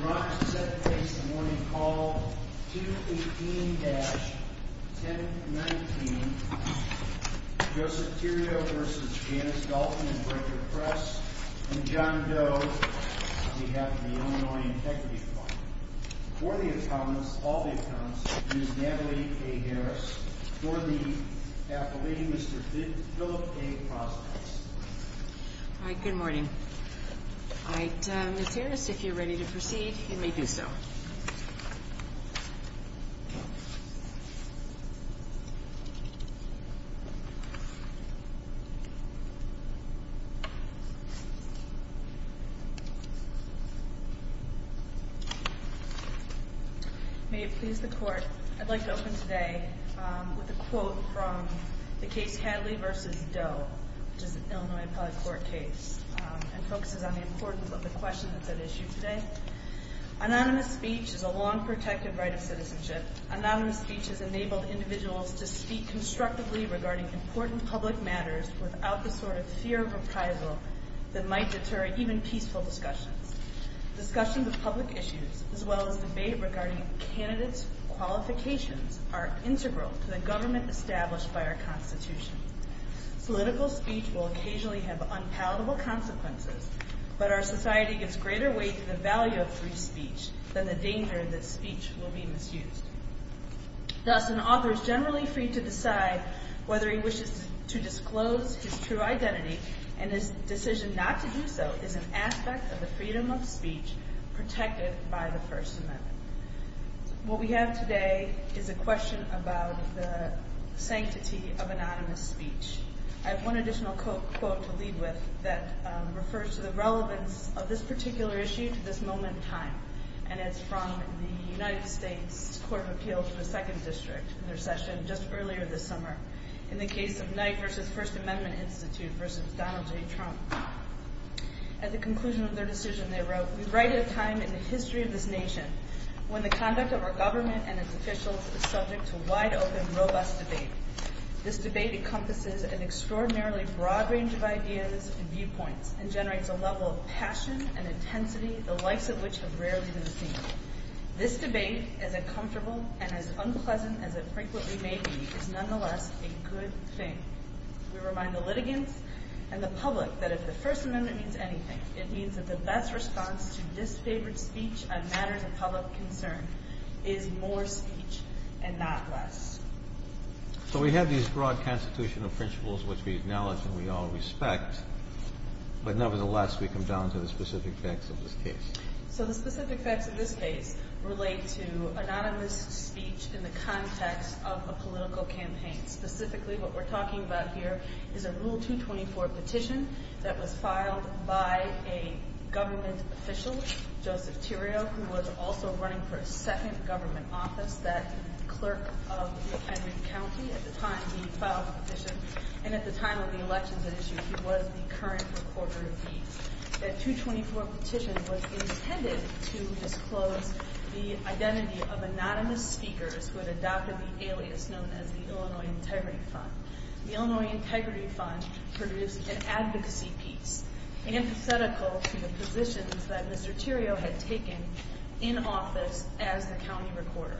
Brought to set the pace of the morning call, 218-1019 Joseph Tirio v. Janice Dalton and Brecker Press and John Doe on behalf of the Illinois Integrity Fund For the accountants, all the accountants, Ms. Natalie A. Harris For the appellee, Mr. Philip A. Prospects Good morning. Ms. Harris, if you're ready to proceed, you may do so. May it please the Court, I'd like to open today with a quote from the case Hadley v. Doe which is an Illinois Appellate Court case and focuses on the importance of the question that's at issue today Anonymous speech is a law and protective right of citizenship. Anonymous speech has enabled individuals to speak constructively regarding important public matters without the sort of fear of reprisal that might deter even peaceful discussions Discussions of public issues as well as debate regarding candidates' qualifications are integral to the government established by our Constitution Political speech will occasionally have unpalatable consequences, but our society gives greater weight to the value of free speech than the danger that speech will be misused Thus, an author is generally free to decide whether he wishes to disclose his true identity and his decision not to do so is an aspect of the freedom of speech protected by the First Amendment What we have today is a question about the sanctity of anonymous speech I have one additional quote to lead with that refers to the relevance of this particular issue to this moment in time and it's from the United States Court of Appeal to the Second District in their session just earlier this summer in the case of Knight v. First Amendment Institute v. Donald J. Trump At the conclusion of their decision, they wrote, We write at a time in the history of this nation when the conduct of our government and its officials is subject to wide-open, robust debate This debate encompasses an extraordinarily broad range of ideas and viewpoints and generates a level of passion and intensity the likes of which have rarely been seen This debate, as uncomfortable and as unpleasant as it frequently may be, is nonetheless a good thing We remind the litigants and the public that if the First Amendment means anything it means that the best response to disfavored speech on matters of public concern is more speech and not less So we have these broad constitutional principles which we acknowledge and we all respect but nevertheless we come down to the specific facts of this case So the specific facts of this case relate to anonymous speech in the context of a political campaign Specifically what we're talking about here is a Rule 224 petition that was filed by a government official, Joseph Tirio who was also running for a second government office, that clerk of McHenry County at the time he filed the petition and at the time of the elections at issue he was the current recorder of deeds That 224 petition was intended to disclose the identity of anonymous speakers who had adopted the alias known as the Illinois Integrity Fund The Illinois Integrity Fund produced an advocacy piece empathetical to the positions that Mr. Tirio had taken in office as the county recorder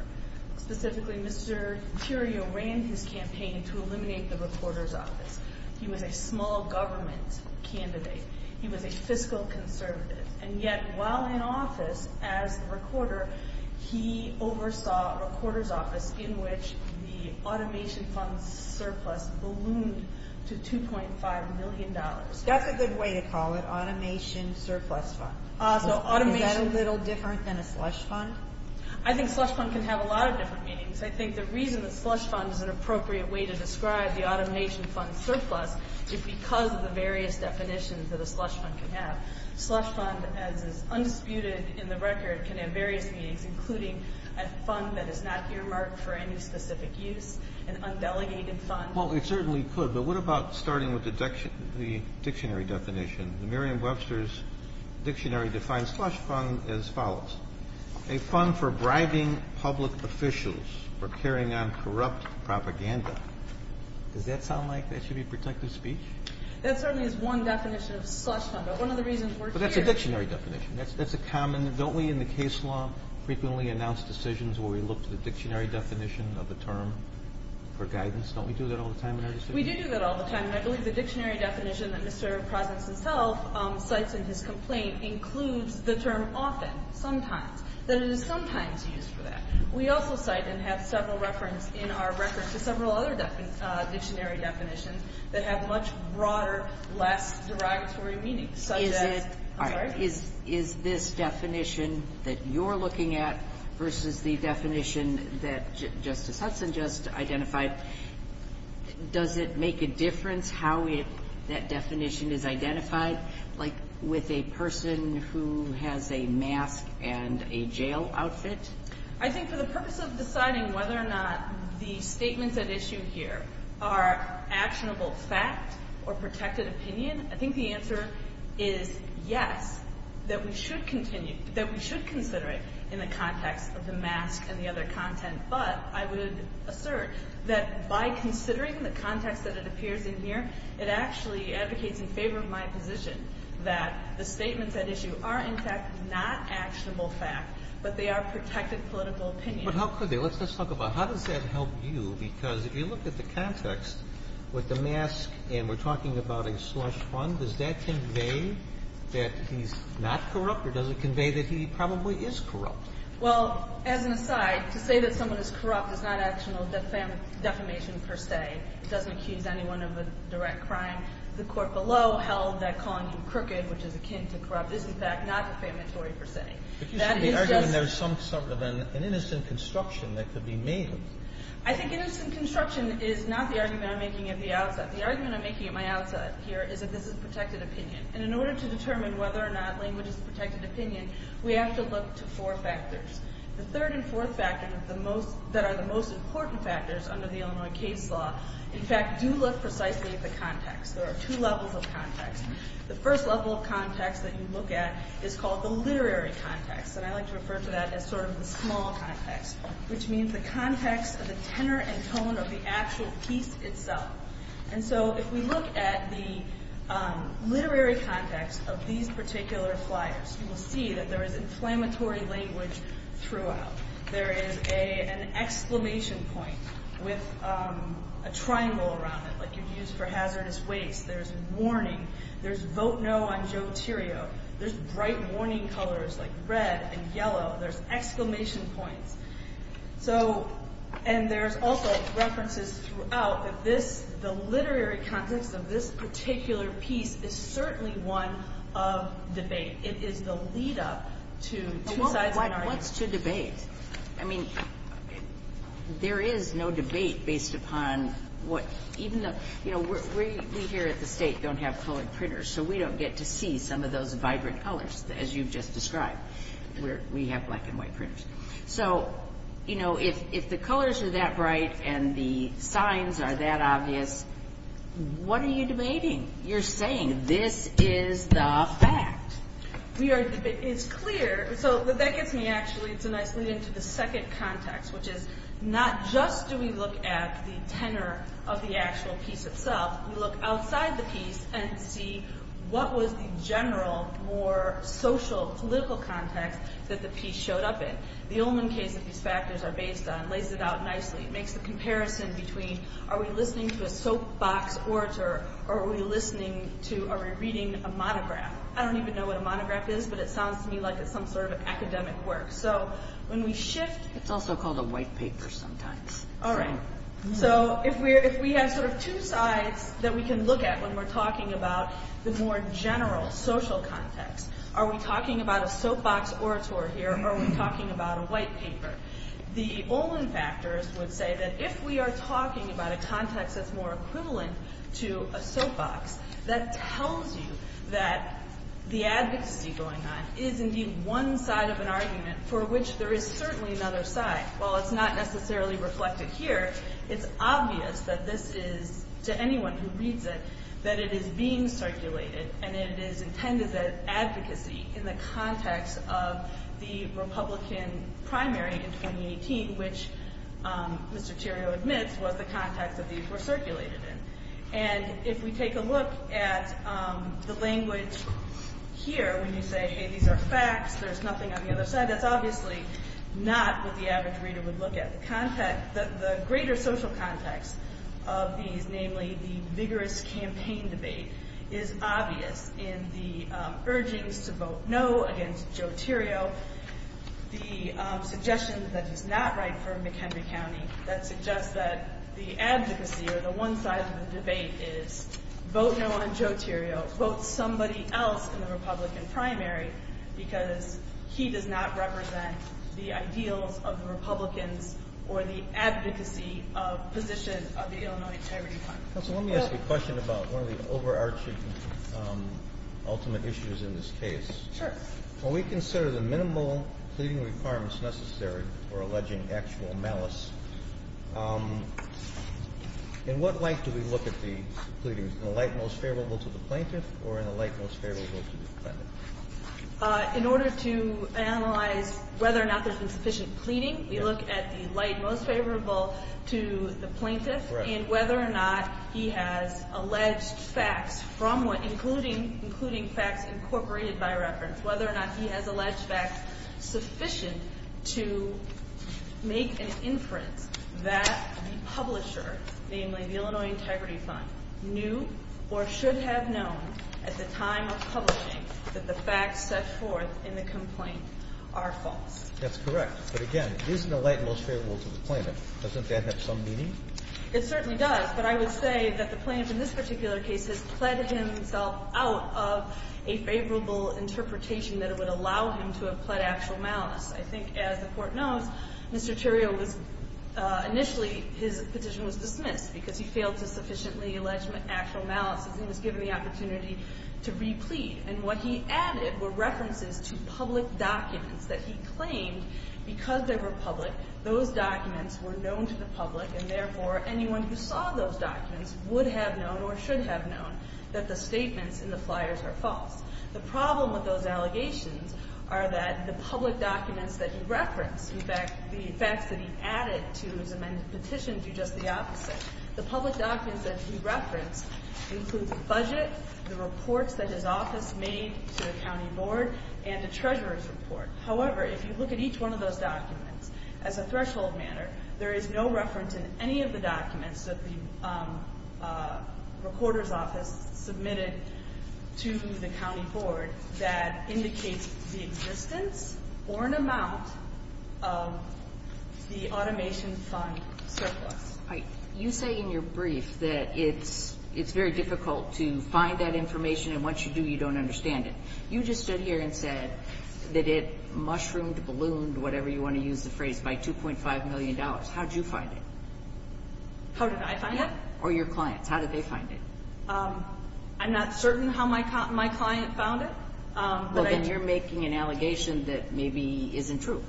Specifically Mr. Tirio ran his campaign to eliminate the recorder's office He was a small government candidate, he was a fiscal conservative and yet while in office as the recorder he oversaw a recorder's office in which the automation fund surplus ballooned to $2.5 million That's a good way to call it, automation surplus fund Is that a little different than a slush fund? I think slush fund can have a lot of different meanings I think the reason that slush fund is an appropriate way to describe the automation fund surplus is because of the various definitions that a slush fund can have A slush fund as is undisputed in the record can have various meanings including a fund that is not earmarked for any specific use, an undelegated fund Well it certainly could, but what about starting with the dictionary definition The Merriam-Webster dictionary defines slush fund as follows A fund for bribing public officials for carrying on corrupt propaganda Does that sound like that should be protected speech? That certainly is one definition of slush fund, but one of the reasons we're here But that's a dictionary definition, that's a common, don't we in the case law frequently announce decisions where we look to the dictionary definition of the term for guidance Don't we do that all the time in our decisions? We do do that all the time and I believe the dictionary definition that Mr. Prozenz himself cites in his complaint includes the term often, sometimes, that it is sometimes used for that We also cite and have several references in our record to several other dictionary definitions that have much broader, less derogatory meanings Is this definition that you're looking at versus the definition that Justice Hudson just identified Does it make a difference how that definition is identified? Like with a person who has a mask and a jail outfit? I think for the purpose of deciding whether or not the statements at issue here are actionable fact or protected opinion, I think the answer is yes, that we should consider it in the context of the mask and the other content, but I would assert that by considering the context that it appears in here it actually advocates in favor of my position that the statements at issue are in fact not actionable fact but they are protected political opinion But how could they? Let's just talk about how does that help you because if you look at the context with the mask and we're talking about a slush fund, does that convey that he's not corrupt or does it convey that he probably is corrupt? Well, as an aside, to say that someone is corrupt is not actionable defamation per se It doesn't accuse anyone of a direct crime The court below held that calling you crooked, which is akin to corrupt, is in fact not defamatory per se But you should be arguing there's some sort of an innocent construction that could be made I think innocent construction is not the argument I'm making at the outset The argument I'm making at my outset here is that this is protected opinion and in order to determine whether or not language is protected opinion, we have to look to four factors The third and fourth factors that are the most important factors under the Illinois case law in fact do look precisely at the context. There are two levels of context The first level of context that you look at is called the literary context and I like to refer to that as sort of the small context which means the context of the tenor and tone of the actual piece itself And so if we look at the literary context of these particular flyers you will see that there is inflammatory language throughout There is an exclamation point with a triangle around it like you'd use for hazardous waste There's warning. There's vote no on Joe Tirio. There's bright warning colors like red and yellow There's exclamation points So, and there's also references throughout that this, the literary context of this particular piece is certainly one of debate. It is the lead up to two sides of an argument What's to debate? I mean, there is no debate based upon what Even though, you know, we here at the state don't have colored printers so we don't get to see some of those vibrant colors as you've just described We have black and white printers So, you know, if the colors are that bright and the signs are that obvious what are you debating? You're saying this is the fact We are, it's clear, so that gets me actually, it's a nice lead into the second context which is not just do we look at the tenor of the actual piece itself We look outside the piece and see what was the general, more social, political context that the piece showed up in The Ullman case that these factors are based on lays it out nicely It makes the comparison between are we listening to a soapbox orator or are we listening to, are we reading a monograph? I don't even know what a monograph is, but it sounds to me like it's some sort of academic work So when we shift It's also called a white paper sometimes Alright, so if we have sort of two sides that we can look at when we're talking about the more general social context Are we talking about a soapbox orator here or are we talking about a white paper? The Ullman factors would say that if we are talking about a context that's more equivalent to a soapbox That tells you that the advocacy going on is indeed one side of an argument for which there is certainly another side While it's not necessarily reflected here, it's obvious that this is, to anyone who reads it That it is being circulated and it is intended as advocacy in the context of the Republican primary in 2018 Which Mr. Theriault admits was the context that these were circulated in And if we take a look at the language here when you say hey these are facts, there's nothing on the other side That's obviously not what the average reader would look at The greater social context of these, namely the vigorous campaign debate Is obvious in the urgings to vote no against Joe Theriault The suggestion that he's not right for McHenry County That suggests that the advocacy or the one side of the debate is vote no on Joe Theriault Vote somebody else in the Republican primary Because he does not represent the ideals of the Republicans or the advocacy position of the Illinois Integrity Fund Counsel, let me ask you a question about one of the overarching ultimate issues in this case Sure When we consider the minimal pleading requirements necessary for alleging actual malice In what light do we look at the pleading? In the light most favorable to the plaintiff or in the light most favorable to the defendant? In order to analyze whether or not there's been sufficient pleading We look at the light most favorable to the plaintiff Correct And whether or not he has alleged facts from what including facts incorporated by reference Whether or not he has alleged facts sufficient to make an inference That the publisher, namely the Illinois Integrity Fund Knew or should have known at the time of publishing That the facts set forth in the complaint are false That's correct, but again, isn't the light most favorable to the plaintiff? Doesn't that have some meaning? It certainly does, but I would say that the plaintiff in this particular case Has pled himself out of a favorable interpretation that it would allow him to have pled actual malice I think as the court knows, Mr. Tirio was initially, his petition was dismissed Because he failed to sufficiently allege actual malice He was given the opportunity to re-plead And what he added were references to public documents that he claimed Because they were public, those documents were known to the public And therefore anyone who saw those documents would have known or should have known That the statements in the flyers are false The problem with those allegations are that the public documents that he referenced In fact, the facts that he added to his amended petition do just the opposite The public documents that he referenced include the budget The reports that his office made to the county board And the treasurer's report However, if you look at each one of those documents As a threshold matter, there is no reference in any of the documents That the recorder's office submitted to the county board That indicates the existence or an amount of the automation fund surplus You say in your brief that it's very difficult to find that information And once you do, you don't understand it You just stood here and said that it mushroomed, ballooned Whatever you want to use the phrase, by 2.5 million dollars How did you find it? How did I find it? Or your clients, how did they find it? I'm not certain how my client found it Well then you're making an allegation that maybe isn't true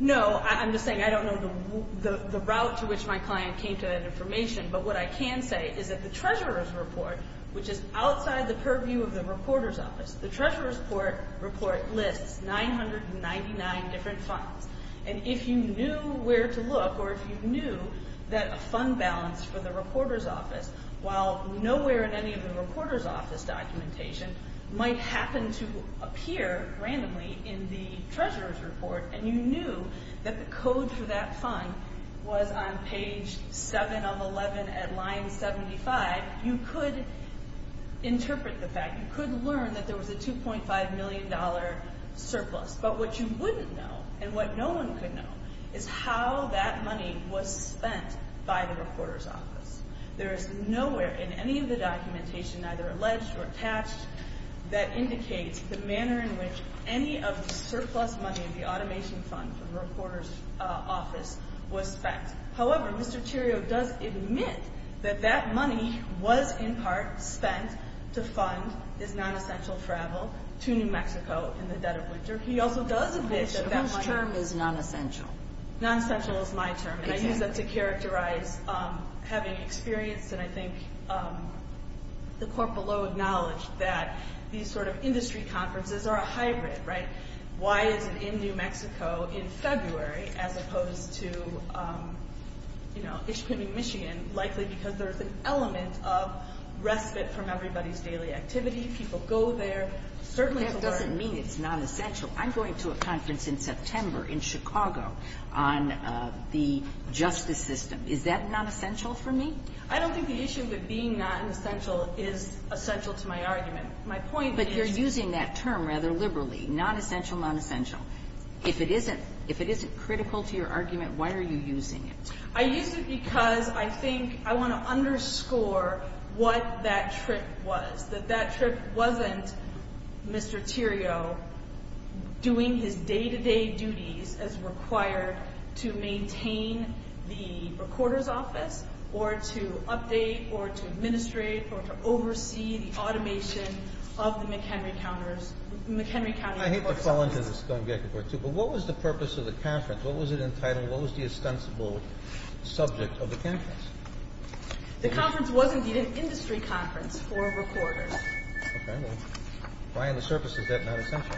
No, I'm just saying I don't know the route to which my client came to that information But what I can say is that the treasurer's report Which is outside the purview of the recorder's office The treasurer's report lists 999 different funds And if you knew where to look Or if you knew that a fund balance for the recorder's office While nowhere in any of the recorder's office documentation Might happen to appear randomly in the treasurer's report And you knew that the code for that fund was on page 7 of 11 at line 75 You could interpret the fact You could learn that there was a 2.5 million dollar surplus But what you wouldn't know and what no one could know Is how that money was spent by the recorder's office There is nowhere in any of the documentation Neither alleged or attached That indicates the manner in which any of the surplus money In the automation fund for the recorder's office was spent However, Mr. Tirio does admit that that money was in part spent To fund his non-essential travel to New Mexico in the dead of winter He also does admit that that money Whose term is non-essential? Non-essential is my term And I use that to characterize having experience And I think the court below acknowledged that These sort of industry conferences are a hybrid, right? Why is it in New Mexico in February As opposed to, you know, Michigan Likely because there's an element of respite From everybody's daily activity People go there That doesn't mean it's non-essential I'm going to a conference in September in Chicago On the justice system Is that non-essential for me? I don't think the issue with being non-essential Is essential to my argument My point is But you're using that term rather liberally Non-essential, non-essential If it isn't critical to your argument Why are you using it? I use it because I think I want to underscore What that trip was That that trip wasn't Mr. Tirio Doing his day-to-day duties As required to maintain The recorder's office Or to update Or to administrate Or to oversee the automation Of the McHenry County Court Service I hate to fall into this But what was the purpose of the conference? What was it entitled? What was the ostensible subject of the conference? The conference was indeed An industry conference for recorders Okay, well Why on the surface is that not essential?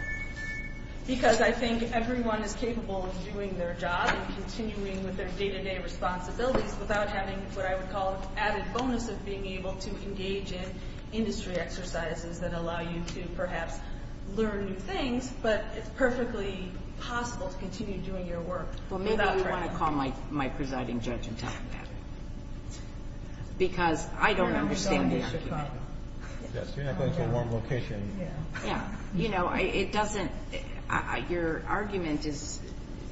Because I think everyone is capable Of doing their job And continuing with their day-to-day responsibilities Without having what I would call An added bonus of being able to engage In industry exercises That allow you to perhaps Learn new things But it's perfectly possible To continue doing your work Well maybe you want to call My presiding judge and tell him that Because I don't understand the argument Yes, you're not going to a warm location Yeah, you know It doesn't Your argument is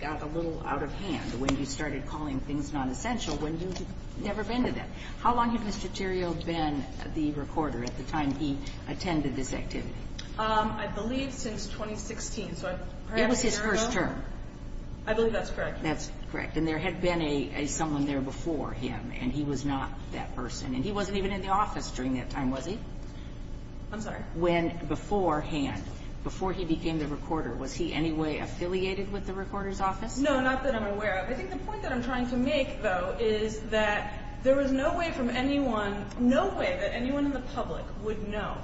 Got a little out of hand When you started calling things non-essential When you've never been to them How long had Mr. Tirio been The recorder at the time he Attended this activity? I believe since 2016 It was his first term I believe that's correct That's correct And there had been a Someone there before him And he was not that person And he wasn't even in the office During that time, was he? I'm sorry When beforehand Before he became the recorder Was he anyway affiliated With the recorder's office? No, not that I'm aware of I think the point that I'm trying to make though Is that there was no way from anyone No way that anyone in the public Would know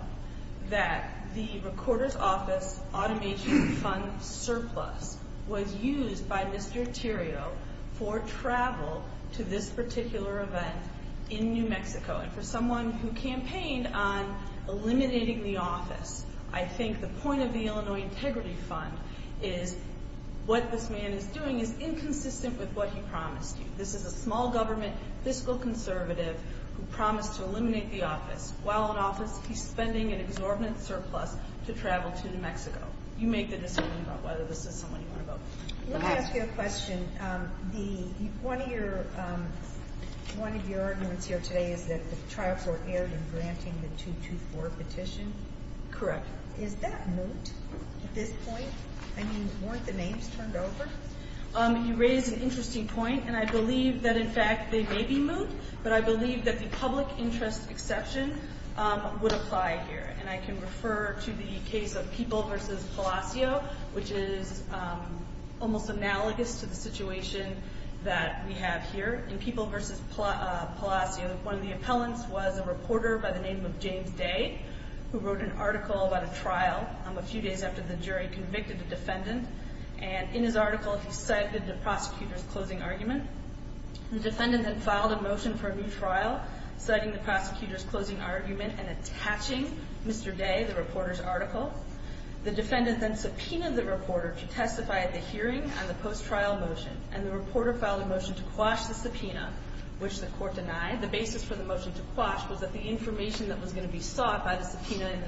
that The recorder's office Automation fund surplus Was used by Mr. Tirio For travel To this particular event In New Mexico And for someone who campaigned on Eliminating the office I think the point of the Illinois Integrity Fund Is what this man is doing Is inconsistent with what he promised you This is a small government Fiscal conservative Who promised to eliminate the office While in office he's spending An exorbitant surplus To travel to New Mexico You make the decision About whether this is someone you want to vote for Let me ask you a question One of your One of your arguments here today Is that the trial court erred In granting the 224 petition Correct Is that moot? At this point? I mean, weren't the names turned over? You raise an interesting point And I believe that in fact They may be moot But I believe that the public interest exception Would apply here And I can refer to the case Of People v. Palacio Which is Almost analogous to the situation That we have here In People v. Palacio One of the appellants was a reporter By the name of James Day Who wrote an article about a trial A few days after the jury convicted the defendant And in his article He cited the prosecutor's closing argument The defendant then filed a motion For a new trial Citing the prosecutor's closing argument And attaching Mr. Day The reporter's article The defendant then subpoenaed the reporter To testify at the hearing on the post-trial motion And the reporter filed a motion To quash the subpoena Which the court denied The basis for the motion to quash Was that the information that was going to be sought By the subpoena in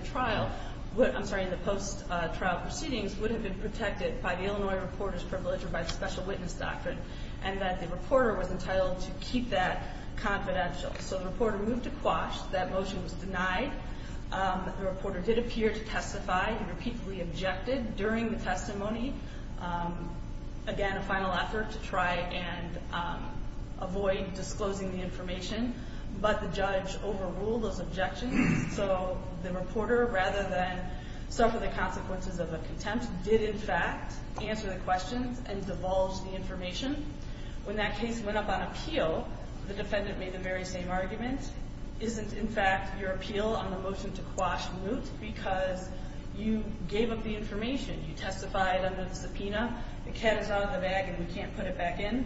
the post-trial proceedings Would have been protected by the Illinois reporter's privilege Or by the special witness doctrine And that the reporter was entitled To keep that confidential So the reporter moved to quash That motion was denied The reporter did appear to testify He repeatedly objected during the testimony Again, a final effort To try and avoid Disclosing the information But the judge overruled So the reporter, rather than Suffer the consequences of a contempt Did, in fact, answer the questions And divulge the information When that case went up on appeal The defendant made the very same argument Isn't, in fact, your appeal On the motion to quash moot Because you gave up the information You testified under the subpoena The cat is out of the bag And we can't put it back in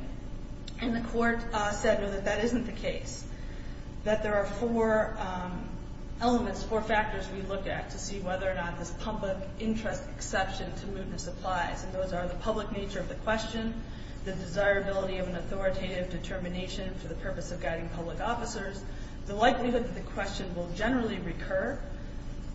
And the court said that that isn't the case That there are four Elements, four factors We looked at to see whether or not This public interest exception to mootness Applies, and those are The public nature of the question The desirability of an authoritative Determination for the purpose of guiding Public officers, the likelihood That the question will generally recur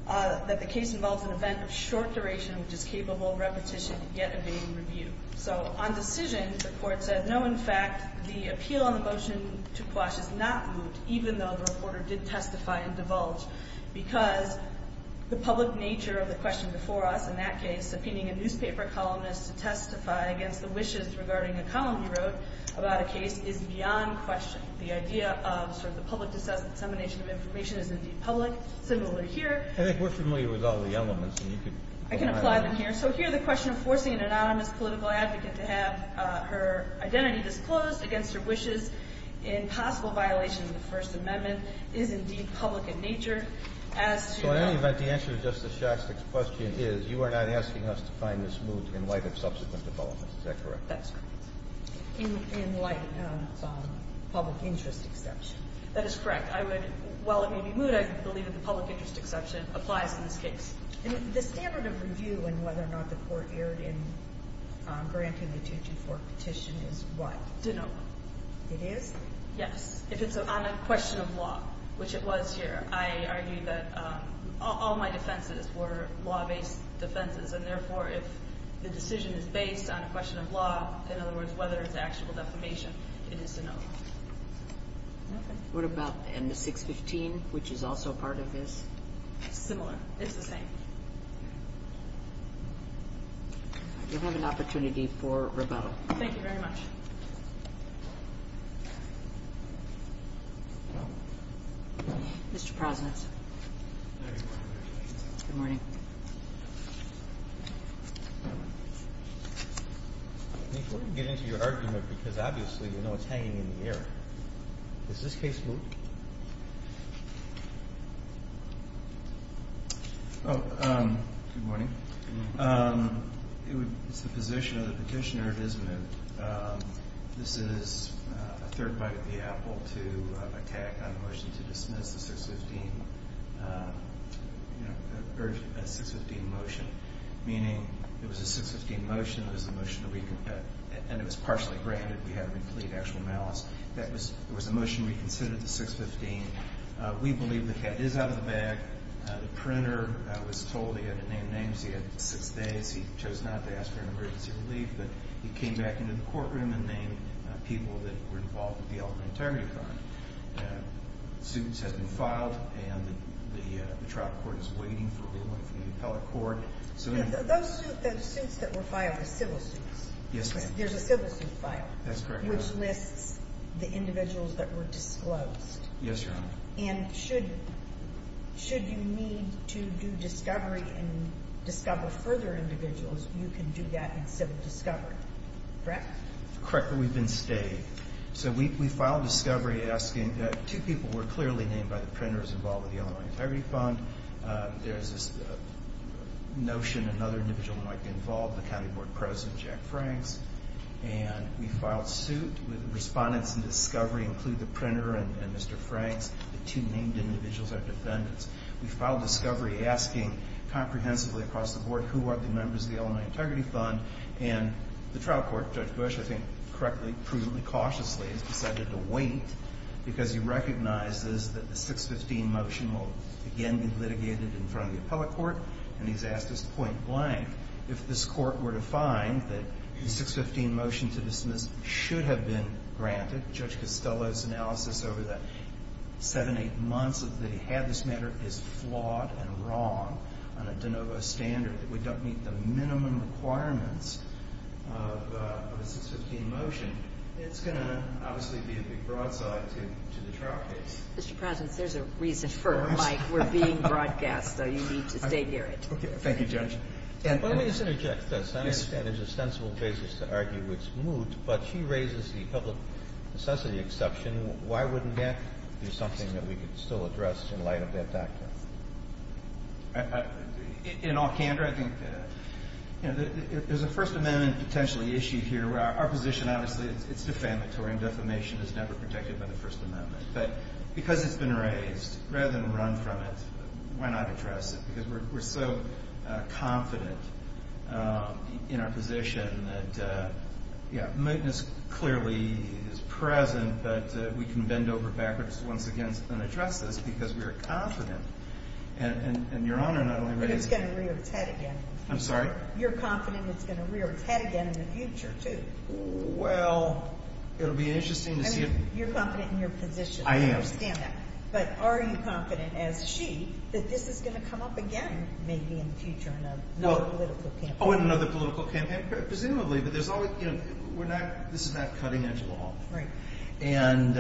That the case involves An event of short duration which is capable Of repetition yet evading review So, on decision, the court said No, in fact, the appeal on the motion To quash is not moot Even though the reporter did testify and divulge Because The public nature of the question before us In that case, subpoenaing a newspaper columnist To testify against the wishes regarding A column he wrote about a case Is beyond question. The idea of Sort of the public dissemination of information Is indeed public, similarly here I think we're familiar with all the elements I can apply them here. So here The question of forcing an anonymous political advocate To have her identity Disclosed against her wishes In possible violation of the First Amendment Is indeed public in nature So in any event, the answer To Justice Shostak's question is You are not asking us to find this moot In light of subsequent developments. Is that correct? That's correct. In light Of public interest Exception. That is correct. I would While it may be moot, I believe that the public interest Exception applies in this case The standard of review in whether or not The court erred in Granting the 224 petition is What? Denial. It is? Yes. If it's on a question Of law, which it was here I argue that all my Defenses were law-based defenses And therefore, if the decision Is based on a question of law In other words, whether it's actual defamation It is to know What about And the 615, which is also part of this? Similar. It's the same You'll have an opportunity For rebuttal. Thank you very much Mr. Prosnitz Good morning We're going to get into your argument Because obviously you know it's hanging in the air Does this case moot? Good morning It's the position of the petitioner It is moot To attack on the motion to dismiss The 615 The 615 motion Meaning it was a 615 motion It was partially granted We haven't completed actual malice There was a motion reconsidered The 615 We believe the head is out of the bag The printer was told he had to name names He had six days He chose not to ask for an emergency relief But he came back into the courtroom And named people that were involved In the Elementary crime Suits have been filed And the trial court is waiting For a ruling from the appellate court Those suits that were filed Are civil suits There's a civil suit file Which lists the individuals that were disclosed And should You need to do discovery And discover further individuals You can do that in civil discovery Correct? Correct, but we've been staying So we filed discovery asking That two people were clearly named by the printers Involved with the Illinois Integrity Fund There's this Notion another individual might be involved The county board president, Jack Franks And we filed suit With respondents in discovery Include the printer and Mr. Franks The two named individuals are defendants We filed discovery asking Comprehensively across the board Who are the members of the Illinois Integrity Fund And the trial court, Judge Bush I think correctly, prudently, cautiously Has decided to wait Because he recognizes that the 615 motion will again be Litigated in front of the appellate court And he's asked us point blank If this court were to find that The 615 motion to dismiss Should have been granted Judge Costello's analysis over the Seven, eight months that he had This matter is flawed and wrong On a de novo standard We don't meet the minimum requirements Of a 615 motion It's going to obviously be a big broadside To the trial case Mr. President, there's a reason for Mike We're being broadcast, so you need to stay geared Thank you, Judge Let me just interject this I understand there's a sensible basis to argue it's moot But she raises the public necessity Exception, why wouldn't that Be something that we could still address In light of that factor In all candor, I think There's a First Amendment potentially issue here Our position, obviously, it's defamatory And defamation is never protected by the First Amendment But because it's been raised Rather than run from it Why not address it? Because we're so Confident In our position that Yeah, mootness Clearly is present But we can bend over backwards once again And address this because we're confident And Your Honor, not only But it's going to rear its head again I'm sorry? You're confident it's going to rear Its head again in the future, too Well, it'll be interesting You're confident in your position I am But are you confident, as she, that this is Going to come up again, maybe in the future In another political campaign Presumably, but there's always This is not cutting edge law Right And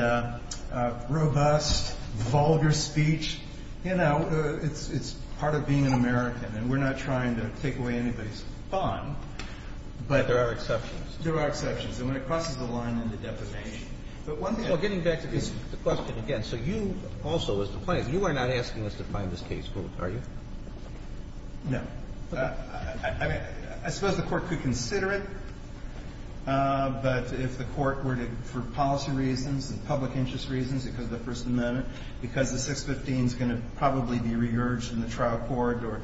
robust Vulgar speech You know, it's part of being An American, and we're not trying to take away Anybody's fun But there are exceptions There are exceptions, and when it crosses the line into defamation Getting back to the question Again, so you also As the plaintiff, you are not asking us to find this case, are you? No I mean I suppose the Court could consider it But if the Court Were to, for policy reasons And public interest reasons, because of the First Amendment Because the 615 is going to Probably be re-urged in the trial court Or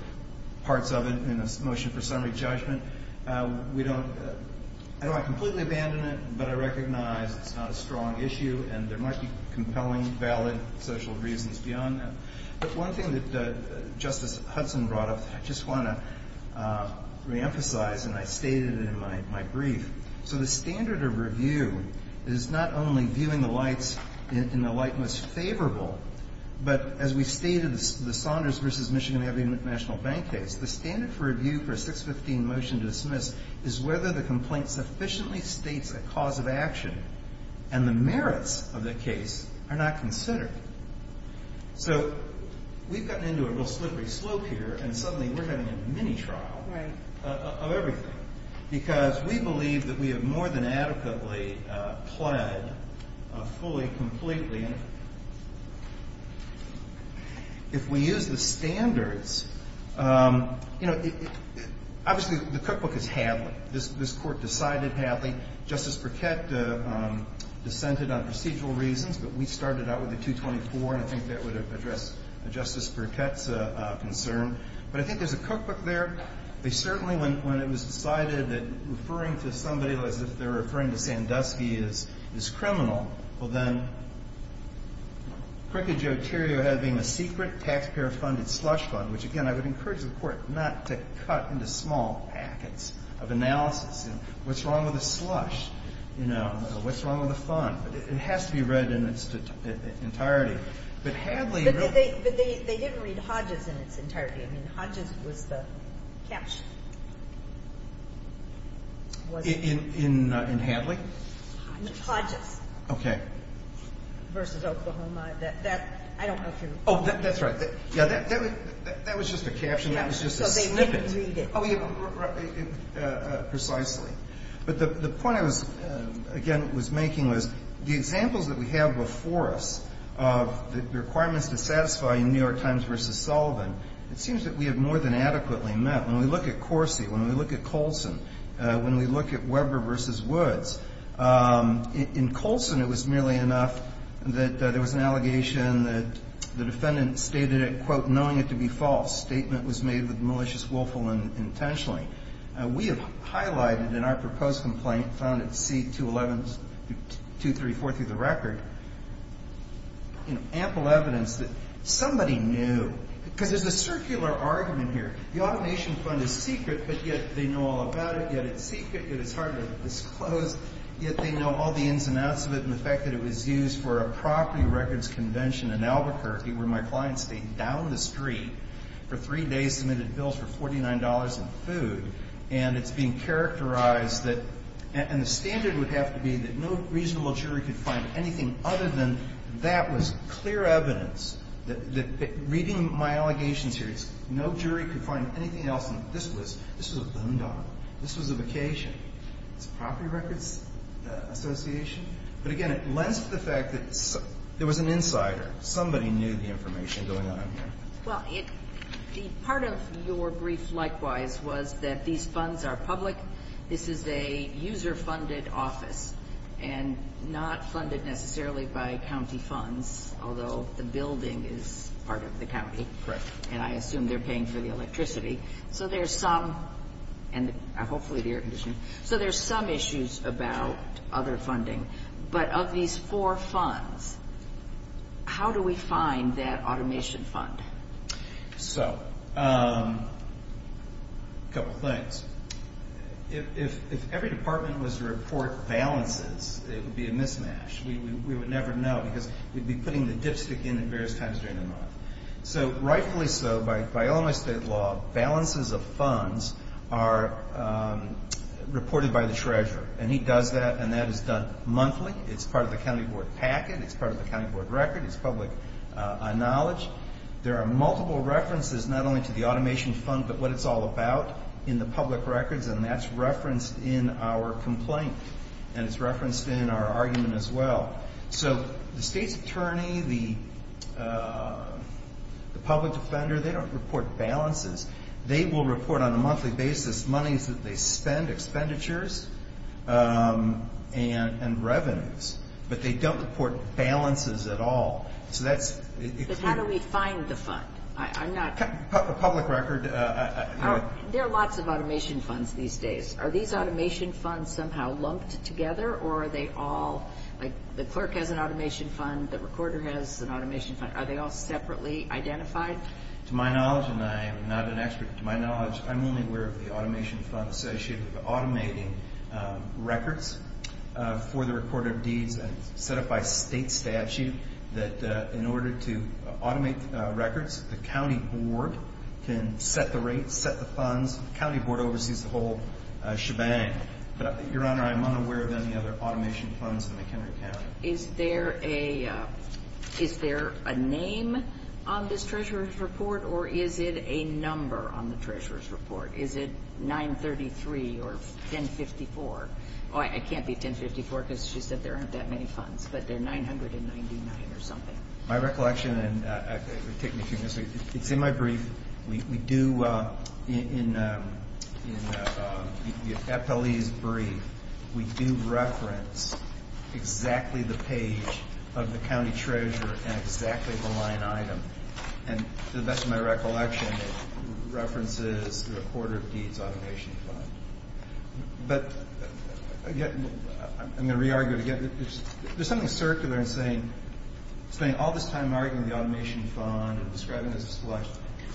parts of it In a motion for summary judgment We don't I don't want to completely abandon it, but I recognize It's not a strong issue, and there might be Compelling, valid social reasons Beyond that, but one thing that Justice Hudson brought up I just want to Reemphasize, and I stated it in my Brief, so the standard of review Is not only viewing the lights In the light most favorable But, as we stated The Saunders v. Michigan Avenue National Bank case, the standard for review For a 615 motion to dismiss Is whether the complaint sufficiently states A cause of action And the merits of the case Are not considered So, we've gotten into a real Slippery slope here, and suddenly we're having A mini-trial Of everything, because we believe That we have more than adequately Pled fully Completely If we Use the standards You know Obviously, the cookbook is Hadley This court decided Hadley Justice Burkett Dissented on procedural reasons, but we started Out with a 224, and I think that would Address Justice Burkett's Concern, but I think there's a cookbook There, they certainly When it was decided that Referring to somebody as if they're referring to Sandusky is criminal Well then Crooked Jotario having a Secret taxpayer funded slush fund Which again, I would encourage the court not to Cut into small packets Of analysis, and what's wrong with a slush? You know, what's wrong With a fund? It has to be read in Its entirety But Hadley really They didn't read Hodges in its entirety I mean, Hodges was the Caption In Hadley? Hodges Okay Versus Oklahoma Oh, that's right That was just a caption So they didn't read it Precisely But the point I was Again, was making was The examples that we have before us Of the requirements to satisfy New York Times versus Sullivan It seems that we have more than adequately met When we look at Corsi, when we look at Colson When we look at Weber Versus Woods In Colson it was merely enough That there was an allegation That the defendant stated it Quote, knowing it to be false Statement was made with malicious willful Intentionally We have highlighted in our proposed complaint Found at C-211-234 Through the record Ample evidence That somebody knew Because there's a circular argument here The automation fund is secret But yet they know all about it Yet it's secret, yet it's hard to disclose Yet they know all the ins and outs of it And the fact that it was used for a property Records convention in Albuquerque Where my client stayed down the street For three days, submitted bills for Forty-nine dollars in food And it's being characterized that And the standard would have to be That no reasonable jury could find Anything other than that was Clear evidence that Reading my allegations here No jury could find anything else This was a loan dollar This was a vacation It's a property records association But again, it lends to the fact that There was an insider Somebody knew the information going on here Well, the part of your brief Likewise was that these funds Are public This is a user-funded office And not funded necessarily By county funds Although the building is part of the county And I assume they're paying for the electricity So there's some And hopefully the air conditioning So there's some issues about Other funding But of these four funds How do we find that automation fund? So A couple things First If every department was to report Balances, it would be a mismatch We would never know Because we'd be putting the dipstick in At various times during the month So rightfully so, by all my state law Balances of funds Are reported by the treasurer And he does that And that is done monthly It's part of the county board packet It's part of the county board record It's public knowledge There are multiple references Not only to the automation fund But what it's all about in the public records And that's referenced in our complaint And it's referenced in our argument as well So The state's attorney The public defender They don't report balances They will report on a monthly basis Monies that they spend Expenditures And revenues But they don't report balances at all So that's But how do we find the fund? A public record There are lots of automation funds these days Are these automation funds somehow lumped together? Or are they all Like the clerk has an automation fund The recorder has an automation fund Are they all separately identified? To my knowledge, and I am not an expert To my knowledge, I'm only aware of the automation fund Associated with automating Records For the recorder of deeds It's set up by state statute That in order to automate Records, the county board Can set the rates Set the funds The county board oversees the whole shebang Your honor, I'm unaware of any other automation funds In McHenry County Is there a Is there a name on this treasurer's report? Or is it a number On the treasurer's report? Is it 933 Or 1054 I can't be 1054 Because she said there aren't that many funds But they're 999 or something My recollection It's in my brief We do In The FLE's brief We do reference Exactly the page of the county treasurer And exactly the line item And to the best of my recollection It references The recorder of deeds automation fund But Again I'm going to re-argue it again There's something circular in saying Spending all this time arguing the automation fund And describing it as a slush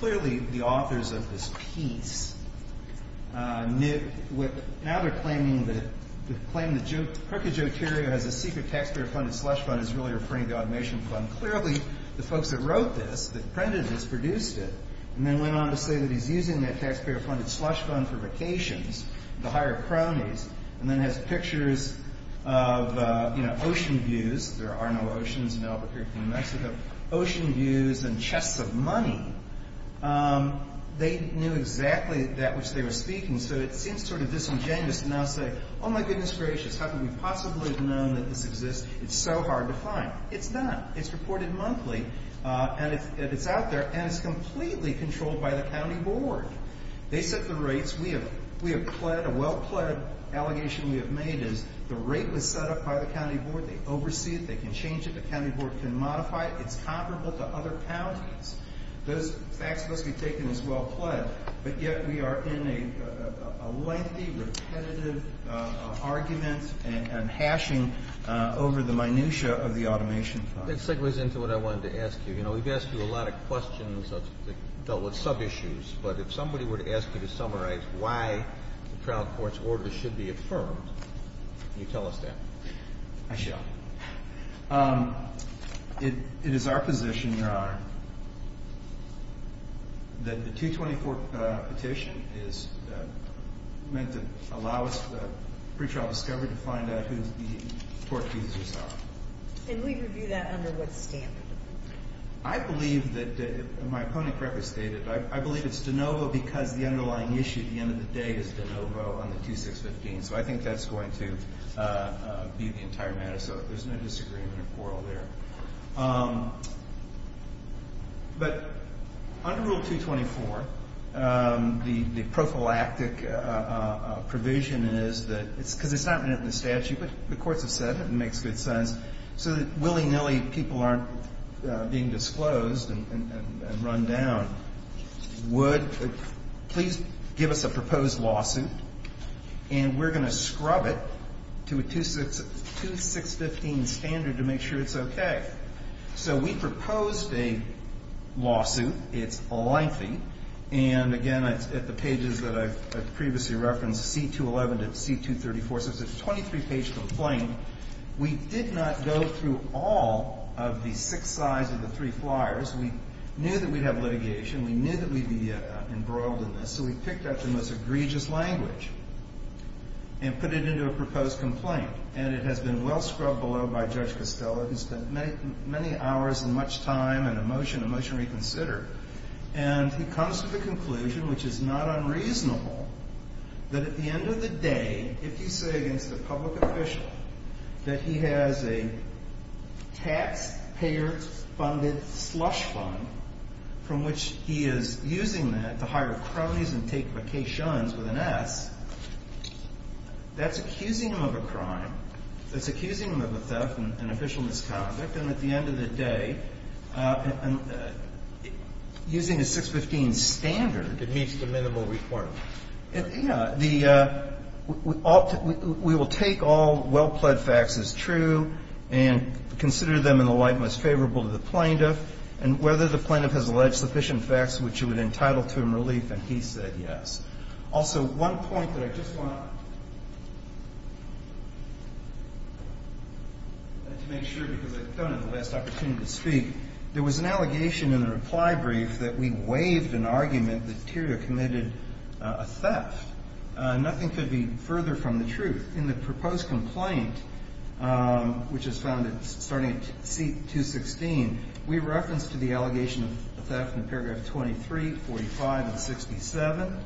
Clearly the authors of this piece Knit Now they're claiming that The claim that Crooked Joe Terrio Has a secret taxpayer funded slush fund Is really referring to the automation fund Clearly the folks that wrote this That printed this produced it And then went on to say that he's using that Taxpayer funded slush fund for vacations To hire cronies And then has pictures of You know, ocean views There are no oceans in Albuquerque, New Mexico Ocean views and chests of money They knew exactly that which they were speaking So it seems sort of disingenuous To now say, oh my goodness gracious How could we possibly have known that this exists It's so hard to find It's not, it's reported monthly And it's out there And it's completely controlled by the county board They set the rates We have pled, a well-pled Allegation we have made is The rate was set up by the county board They oversee it, they can change it, the county board can modify it It's comparable to other counties Those facts must be taken As well-pled But yet we are in a lengthy Repetitive argument And hashing Over the minutia of the automation fund That segues into what I wanted to ask you You know, we've asked you a lot of questions That dealt with sub-issues But if somebody were to ask you to summarize Why the trial court's order should be affirmed Can you tell us that? I shall Um It is our position, Your Honor That the 224 petition Is meant to Allow us for the pre-trial discovery To find out who's being tortured And we review that Under what standard? I believe that My opponent correctly stated I believe it's de novo because the underlying issue At the end of the day is de novo On the 2615 So I think that's going to be the entire matter So there's no disagreement or quarrel there Um But Under Rule 224 The prophylactic Provision is that Because it's not written in the statute But the courts have said it and it makes good sense So that willy-nilly people aren't Being disclosed And run down Would Please give us a proposed lawsuit And we're going to scrub it To a 2615 standard to make sure it's okay So we proposed a Lawsuit It's lengthy And again, at the pages that I've Previously referenced, C211 to C234 So it's a 23-page complaint We did not go Through all of the Six sides of the three flyers We knew that we'd have litigation We knew that we'd be embroiled in this So we picked out the most egregious language And put it into a Proposed complaint And it has been well scrubbed below by Judge Costello Who spent many hours and much time And emotion, emotion reconsidered And he comes to the conclusion Which is not unreasonable That at the end of the day If you say against a public official That he has a Taxpayer Funded slush fund From which he is Using that to hire cronies and take Vacations with an S That's accusing him Of a crime, that's accusing him Of a theft and an official misconduct And at the end of the day Using The 615 standard It meets the minimum requirement Yeah We will take all Well pled facts as true And consider them in the light most Favorable to the plaintiff And whether the plaintiff has alleged sufficient facts Which it would entitle to him relief And he said yes Also one point that I just want To make sure Because I don't have the last Opportunity to speak There was an allegation in the reply brief That we waived an argument That Tiria committed a theft Nothing could be further From the truth In the proposed complaint Which is found starting at Seat 216 We reference to the allegation of theft In paragraph 23, 45, and 67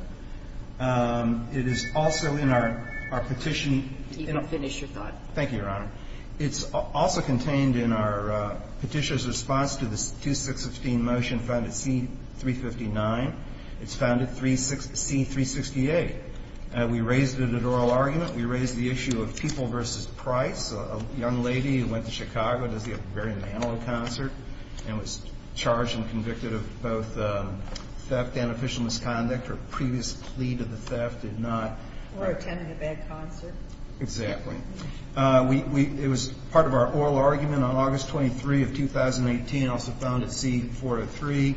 It is also In our petition You can finish your thought Thank you your honor It's also contained in our Petitioner's response to the 2615 motion found at C359 It's found at C368 We raised it at oral argument We raised the issue of people versus Price, a young lady Went to Chicago to see a Barry Manilow concert And was charged And convicted of both Theft and official misconduct Her previous plea to the theft did not Or attended a bad concert Exactly It was part of our oral argument On August 23 of 2018 Also found at C403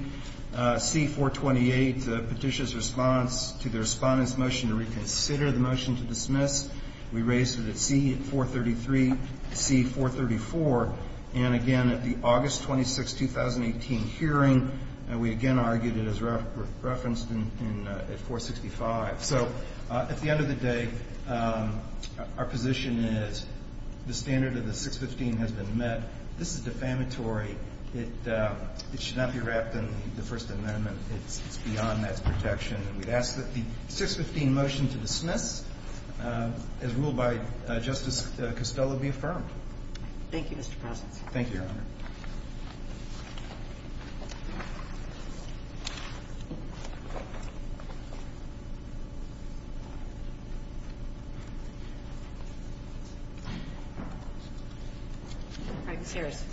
C428 Petitioner's response to the Respondent's motion to reconsider the motion To dismiss, we raised it at C433, C434 And again At the August 26, 2018 Hearing, we again argued It is referenced At 465 So at the end of the day Our position is The standard of the 615 Has been met, this is defamatory It should not be Wrapped in the first amendment It's beyond that protection We ask that the 615 motion to dismiss As ruled by Justice Costello be Affirmed Thank you your honor Ms. Harris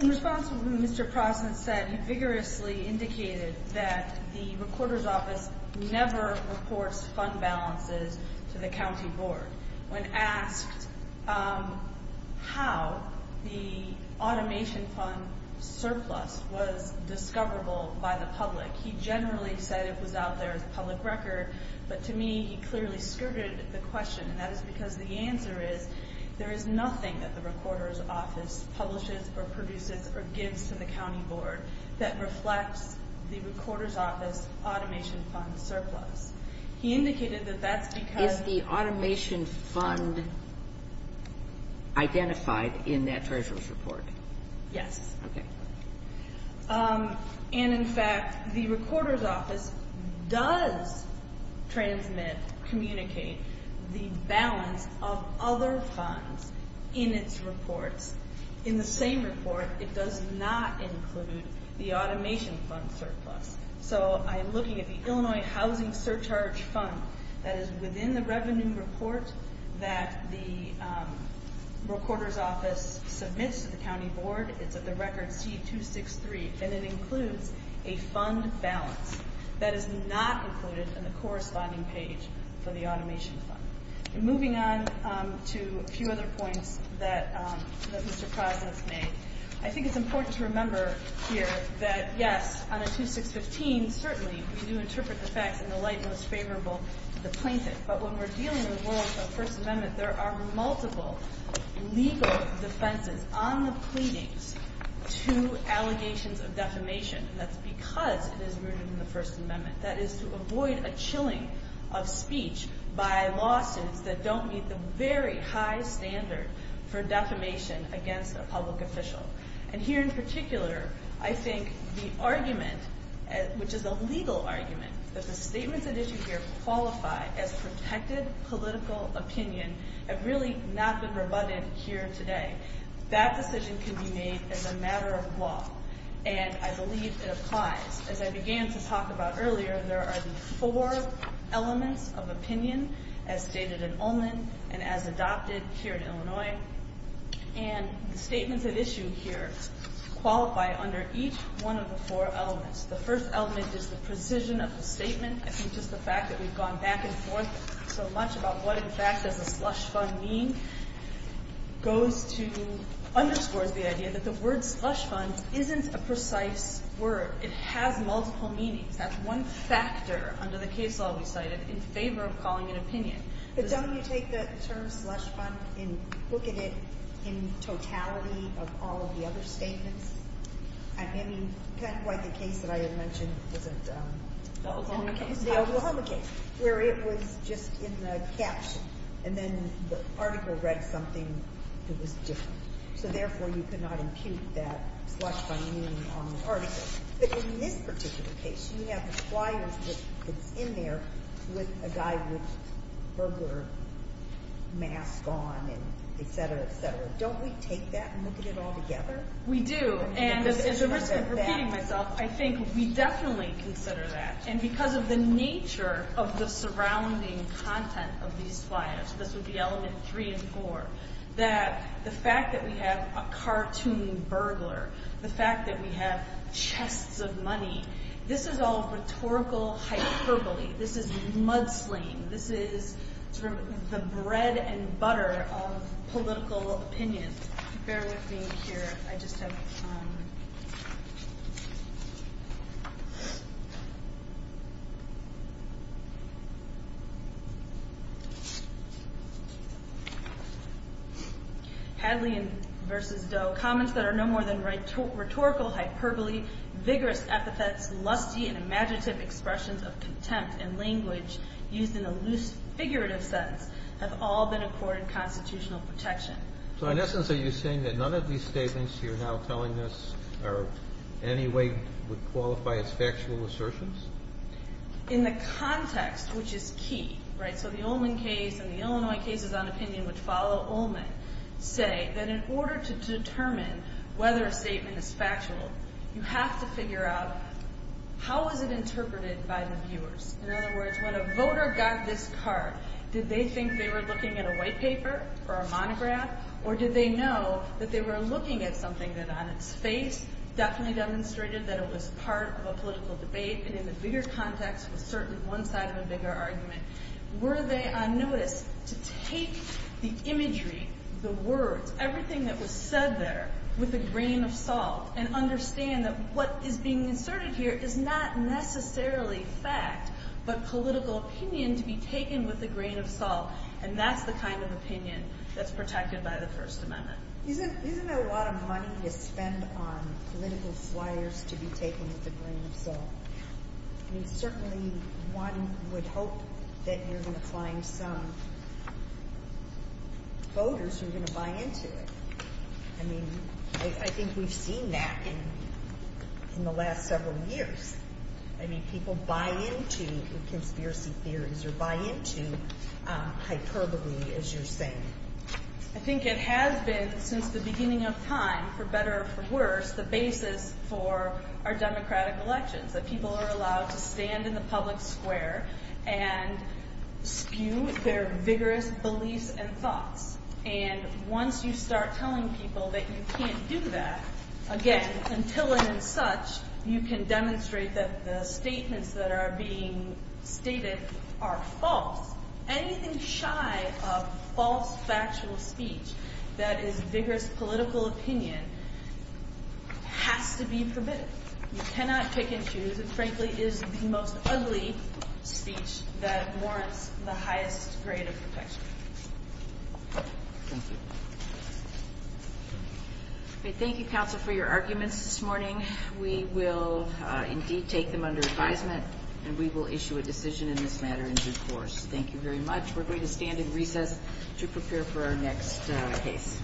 In response to what Mr. Prozant said He vigorously indicated That the recorder's office Never reports fund balances To the county board When asked How The automation fund Surplus was Discoverable by the public He generally said it was out there As a public record, but to me He clearly skirted the question And that is because the answer is There is nothing that the recorder's office Publishes or produces or gives to the county board That reflects The recorder's office Automation fund surplus He indicated that that's because Is the automation fund Identified In that treasurer's report Yes And in fact The recorder's office Does transmit Communicate The balance of other funds In its reports In the same report It does not include The automation fund surplus So I'm looking at the Illinois Housing surcharge fund That is within the revenue report That the Recorder's office Submits to the county board It's at the record C-263 And it includes a fund balance That is not included In the corresponding page For the automation fund Moving on to a few other points That Mr. Prozant made I think it's important to remember Here that yes On a 2615 certainly We do interpret the facts in the light most favorable To the plaintiff but when we're dealing In the world of the First Amendment There are multiple legal Defenses on the pleadings To allegations of defamation And that's because it is rooted In the First Amendment That is to avoid a chilling of speech By lawsuits that don't meet The very high standard For defamation against a public official And here in particular I think the argument Which is a legal argument That the statements at issue here qualify As protected political Opinion have really not been Rebutted here today That decision can be made as a matter Of law and I believe It applies as I began to talk About earlier there are the four Elements of opinion As stated in Ullman and as Adopted here in Illinois And the statements at issue here Qualify under each One of the four elements The first element is the precision of the statement I think just the fact that we've gone back and forth So much about what in fact Does a slush fund mean Goes to Underscores the idea that the word slush fund Isn't a precise word It has multiple meanings That's one factor under the case law We cited in favor of calling an opinion But don't you take the term slush fund And look at it in totality Of all of the other statements I mean Kind of like the case that I had mentioned The Oklahoma case Where it was just In the caption and then The article read something That was different so therefore You could not impute that slush fund Meaning on the article But in this particular case you have the flyers That's in there With a guy with burglar Mask on Et cetera et cetera Don't we take that and look at it all together We do and I think we definitely Consider that and because of the nature Of the surrounding Content of these flyers This would be element three and four That the fact that we have A cartoon burglar The fact that we have chests of money This is all rhetorical Hyperbole This is mudslinging This is the bread and butter Of political opinions Bear with me here I just have Hadley Versus Doe Comments that are no more than rhetorical hyperbole Vigorous epithets Lusty and imaginative expressions Of contempt and language Used in a loose figurative sense Have all been accorded constitutional protection So in essence are you saying That none of these statements you're now telling us Are in any way Would qualify as factual assertions In the context Which is key right So the Olman case and the Illinois cases on opinion Which follow Olman Say that in order to determine Whether a statement is factual You have to figure out How is it interpreted by the viewers In other words when a voter Got this card Did they think they were looking at a white paper Or a monograph Or did they know that they were looking at something That on its face definitely demonstrated That it was part of a political debate And in the bigger context Was certainly one side of a bigger argument Were they on notice To take the imagery The words, everything that was said there With a grain of salt And understand that what is being inserted here Is not necessarily fact But political opinion To be taken with a grain of salt And that's the kind of opinion That's protected by the first amendment Isn't that a lot of money to spend On political flyers To be taken with a grain of salt I mean certainly One would hope that you're going to find Some Voters who are going to buy into it I mean I think we've seen that In the last several years I mean people buy into Conspiracy theories Or buy into hyperbole As you're saying I think it has been since the beginning of time For better or for worse The basis for our democratic elections That people are allowed to stand In the public square And spew their vigorous Beliefs and thoughts And once you start telling people That you can't do that Again until and in such You can demonstrate that The statements that are being Stated are false Anything shy of False factual speech That is vigorous political opinion Has to be Forbidden You cannot pick and choose It frankly is the most ugly speech That warrants the highest Period of protection Thank you Thank you counsel for your arguments this morning We will indeed Take them under advisement And we will issue a decision in this matter in due course Thank you very much We're going to stand in recess To prepare for our next case